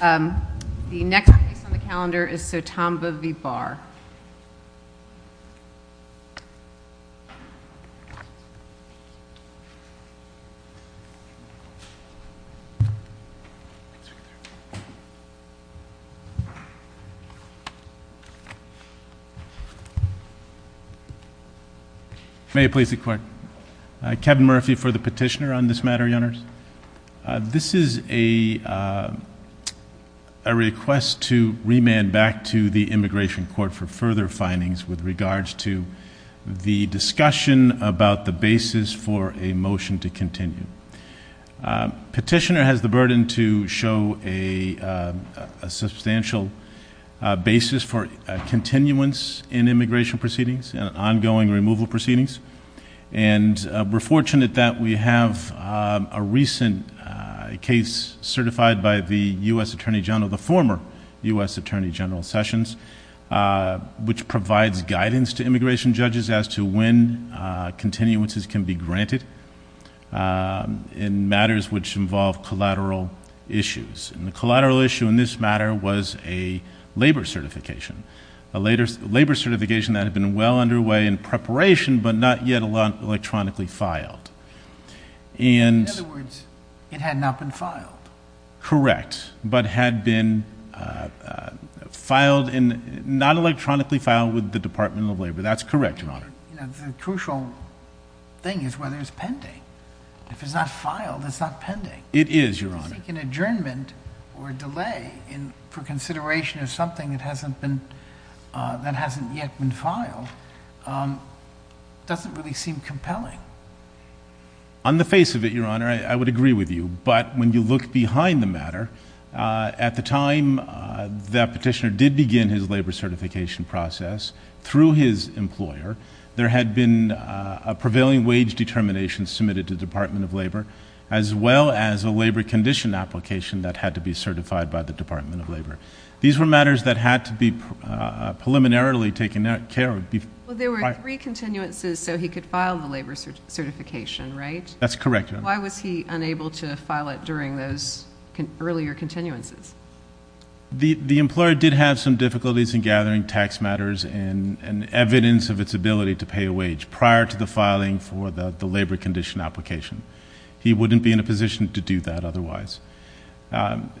The next piece on the calendar is Sotamba v. Barr. May I please see the clerk? Kevin Murphy for the petitioner on this matter, Your Honors. This is a request to remand back to the Immigration Court for further findings with regards to the discussion about the basis for a motion to continue. Petitioner has the burden to show a substantial basis for continuance in immigration proceedings and ongoing removal proceedings. We're fortunate that we have a recent case certified by the U.S. Attorney General, the former U.S. Attorney General Sessions, which provides guidance to immigration judges as to when continuances can be granted in matters which involve collateral issues. The collateral issue in this matter was a labor certification. A labor certification that had been well underway in preparation, but not yet electronically filed. In other words, it had not been filed. Correct, but had been not electronically filed with the Department of Labor. That's correct, Your Honor. The crucial thing is whether it's pending. If it's not filed, it's not pending. It is, Your Honor. I think an adjournment or a delay for consideration of something that hasn't yet been filed doesn't really seem compelling. On the face of it, Your Honor, I would agree with you. But when you look behind the matter, at the time that petitioner did begin his labor certification process, through his employer, there had been a prevailing wage determination submitted to the Department of Labor, as well as a labor condition application that had to be certified by the Department of Labor. These were matters that had to be preliminarily taken care of. There were three continuances so he could file the labor certification, right? That's correct, Your Honor. Why was he unable to file it during those earlier continuances? The employer did have some difficulties in gathering tax matters and evidence of its ability to pay a wage prior to the filing for the labor condition application. He wouldn't be in a position to do that otherwise. Isn't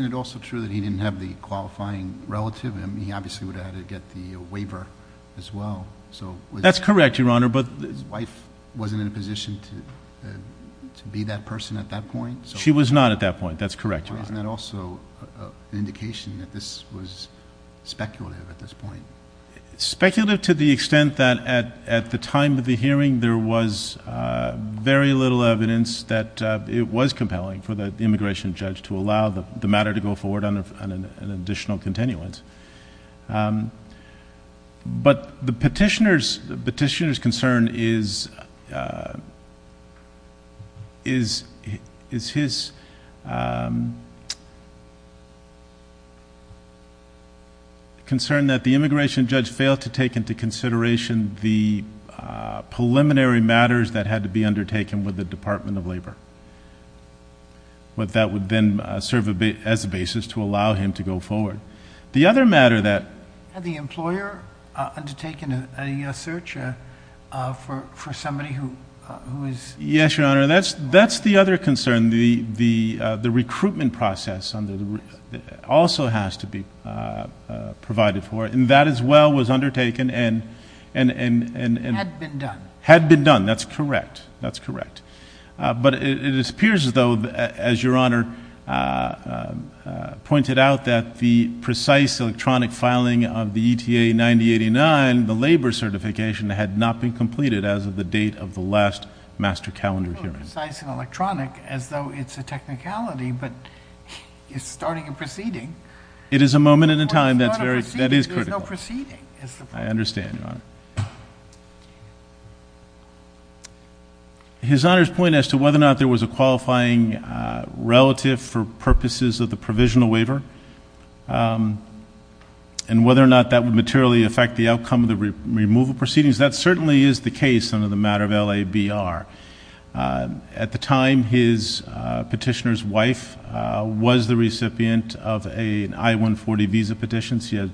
it also true that he didn't have the qualifying relative? He obviously would have had to get the waiver as well. That's correct, Your Honor. His wife wasn't in a position to be that person at that point? She was not at that point. That's correct, Your Honor. Isn't that also an indication that this was speculative at this point? Speculative to the extent that at the time of the hearing, there was very little evidence that it was compelling for the immigration judge to allow the matter to go forward on an additional continuance. But the petitioner's concern is his concern that the immigration judge failed to take into consideration the preliminary matters that had to be undertaken with the Department of Labor. But that would then serve as a basis to allow him to go forward. The other matter that... Had the employer undertaken a search for somebody who is... Yes, Your Honor. That's the other concern. The recruitment process also has to be provided for. And that as well was undertaken and... Had been done. Had been done. That's correct. That's correct. But it appears as though, as Your Honor pointed out, that the precise electronic filing of the ETA-9089, the labor certification, had not been completed as of the date of the last master calendar hearing. Precise and electronic as though it's a technicality, but it's starting a proceeding. It is a moment in time that is critical. There's no proceeding. I understand, Your Honor. Thank you. His Honor's point as to whether or not there was a qualifying relative for purposes of the provisional waiver and whether or not that would materially affect the outcome of the removal proceedings, that certainly is the case under the matter of LABR. At the time, his petitioner's wife was the recipient of an I-140 visa petition. She had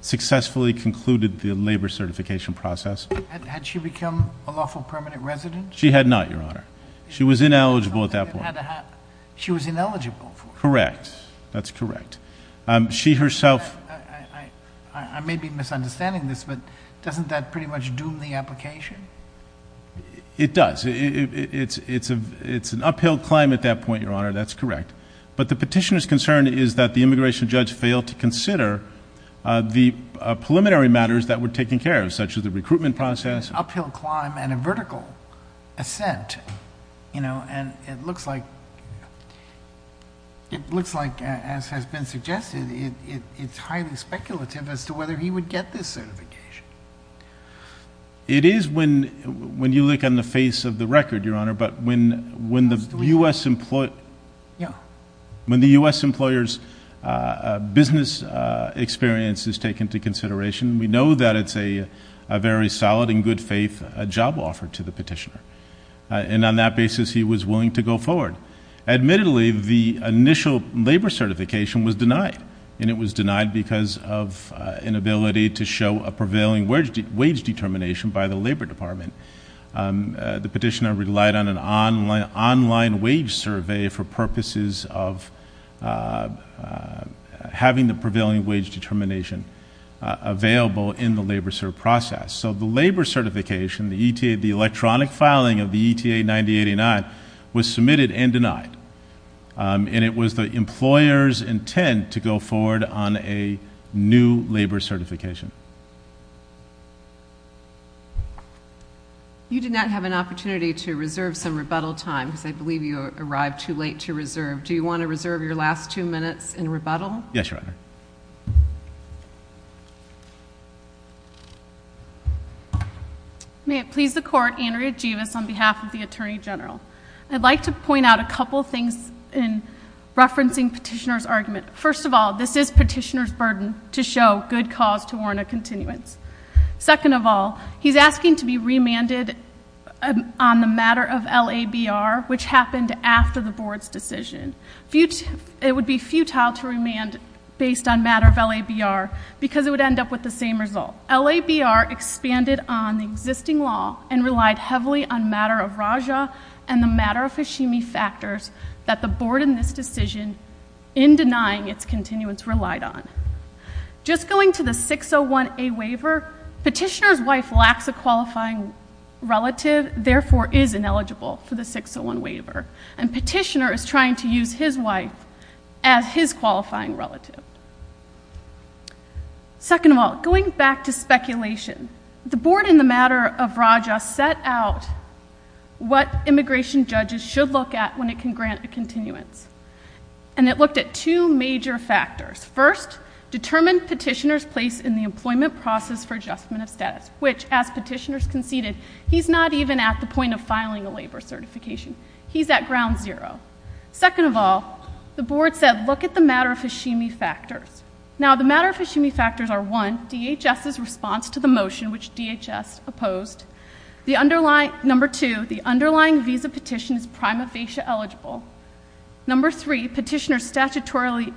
successfully concluded the labor certification process. Had she become a lawful permanent resident? She had not, Your Honor. She was ineligible at that point. She was ineligible for it. Correct. That's correct. She herself... I may be misunderstanding this, but doesn't that pretty much doom the application? It does. It's an uphill climb at that point, Your Honor. That's correct. But the petitioner's concern is that the immigration judge failed to consider the preliminary matters that were taken care of, such as the recruitment process... An uphill climb and a vertical ascent. And it looks like, as has been suggested, it's highly speculative as to whether he would get this certification. It is when you look on the face of the record, Your Honor, but when the U.S.... When the U.S. employer's business experience is taken into consideration, we know that it's a very solid and good faith job offer to the petitioner. And on that basis, he was willing to go forward. Admittedly, the initial labor certification was denied. And it was denied because of an inability to show a prevailing wage determination by the Labor Department. The petitioner relied on an online wage survey for purposes of having the prevailing wage determination available in the labor process. So the labor certification, the electronic filing of the ETA 9089, was submitted and denied. And it was the employer's intent to go forward on a new labor certification. You did not have an opportunity to reserve some rebuttal time, because I believe you arrived too late to reserve. Do you want to reserve your last two minutes in rebuttal? Yes, Your Honor. May it please the Court, Andrea Jebus on behalf of the Attorney General. I'd like to point out a couple things in referencing Petitioner's argument. First of all, this is Petitioner's burden to show good cause to warrant a continuance. Second of all, he's asking to be remanded on the matter of LABR, which happened after the Board's decision. It would be futile to remand based on matter of LABR, because it would end up with the same result. LABR expanded on the existing law and relied heavily on matter of Raja and the matter of Hashimi factors that the Board in this decision, in denying its continuance, relied on. Just going to the 601A waiver, Petitioner's wife lacks a qualifying relative, therefore is ineligible for the 601 waiver. And Petitioner is trying to use his wife as his qualifying relative. Second of all, going back to speculation, the Board in the matter of Raja set out what immigration judges should look at when it can grant a continuance. And it looked at two major factors. First, determine Petitioner's place in the employment process for adjustment of status, which, as Petitioner's conceded, he's not even at the point of filing a LABR certification. He's at ground zero. Second of all, the Board said, look at the matter of Hashimi factors. Now, the matter of Hashimi factors are, one, DHS's response to the motion, which DHS opposed. Number two, the underlying visa petition is prima facie eligible. Number three, Petitioner's statutory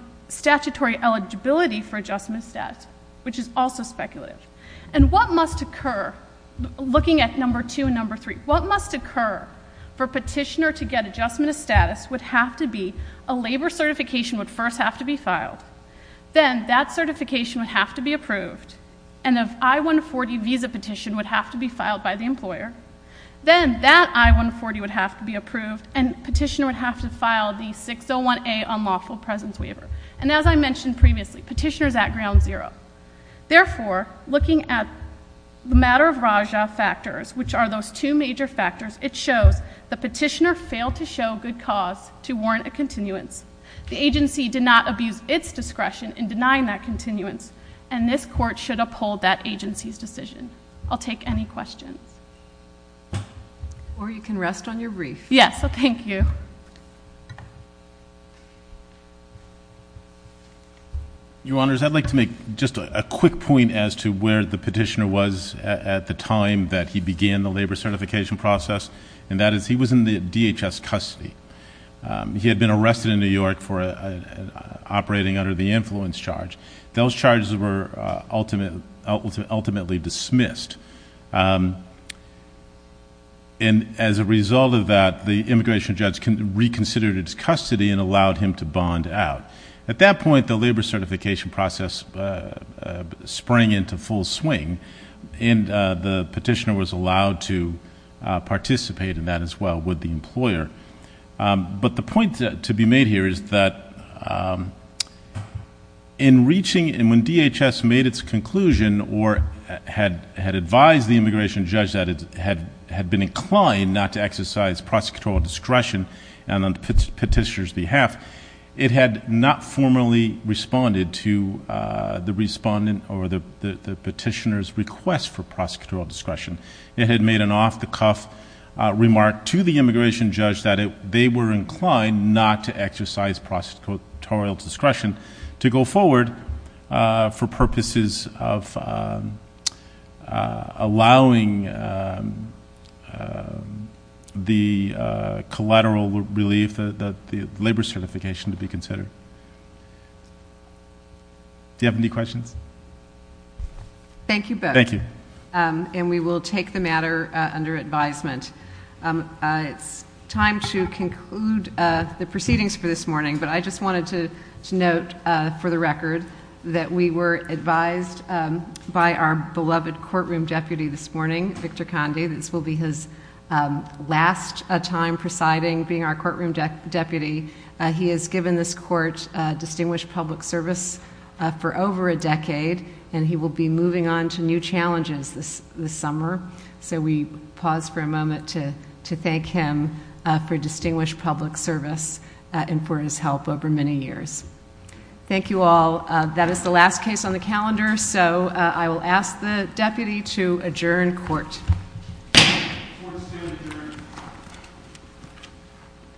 eligibility for adjustment of status, which is also speculative. And what must occur, looking at number two and number three, what must occur for Petitioner to get adjustment of status would have to be a LABR certification would first have to be filed. Then that certification would have to be approved. And an I-140 visa petition would have to be filed by the employer. Then that I-140 would have to be approved, and Petitioner would have to file the 601A unlawful presence waiver. And as I mentioned previously, Petitioner's at ground zero. Therefore, looking at the matter of Rajah factors, which are those two major factors, it shows the Petitioner failed to show good cause to warrant a continuance. The agency did not abuse its discretion in denying that continuance, and this Court should uphold that agency's decision. I'll take any questions. Or you can rest on your brief. Yes, thank you. Your Honors, I'd like to make just a quick point as to where the Petitioner was at the time that he began the LABR certification process, and that is he was in the DHS custody. He had been arrested in New York for operating under the influence charge. Those charges were ultimately dismissed. And as a result of that, the immigration judge reconsidered its custody and allowed him to bond out. At that point, the LABR certification process sprang into full swing, and the Petitioner was allowed to participate in that as well with the employer. But the point to be made here is that in reaching, and when DHS made its conclusion or had advised the immigration judge that it had been inclined not to exercise prosecutorial discretion on the Petitioner's behalf, it had not formally responded to the Respondent or the Petitioner's request for prosecutorial discretion. It had made an off-the-cuff remark to the immigration judge that they were inclined not to exercise prosecutorial discretion to go forward for purposes of allowing the collateral relief, the LABR certification, to be considered. Do you have any questions? Thank you both. Thank you. And we will take the matter under advisement. It's time to conclude the proceedings for this morning, but I just wanted to note for the record that we were advised by our beloved courtroom deputy this morning, Victor Conde. This will be his last time presiding, being our courtroom deputy. He has given this court distinguished public service for over a decade, and he will be moving on to new challenges this summer. So we pause for a moment to thank him for distinguished public service and for his help over many years. Thank you all. That is the last case on the calendar, so I will ask the deputy to adjourn court.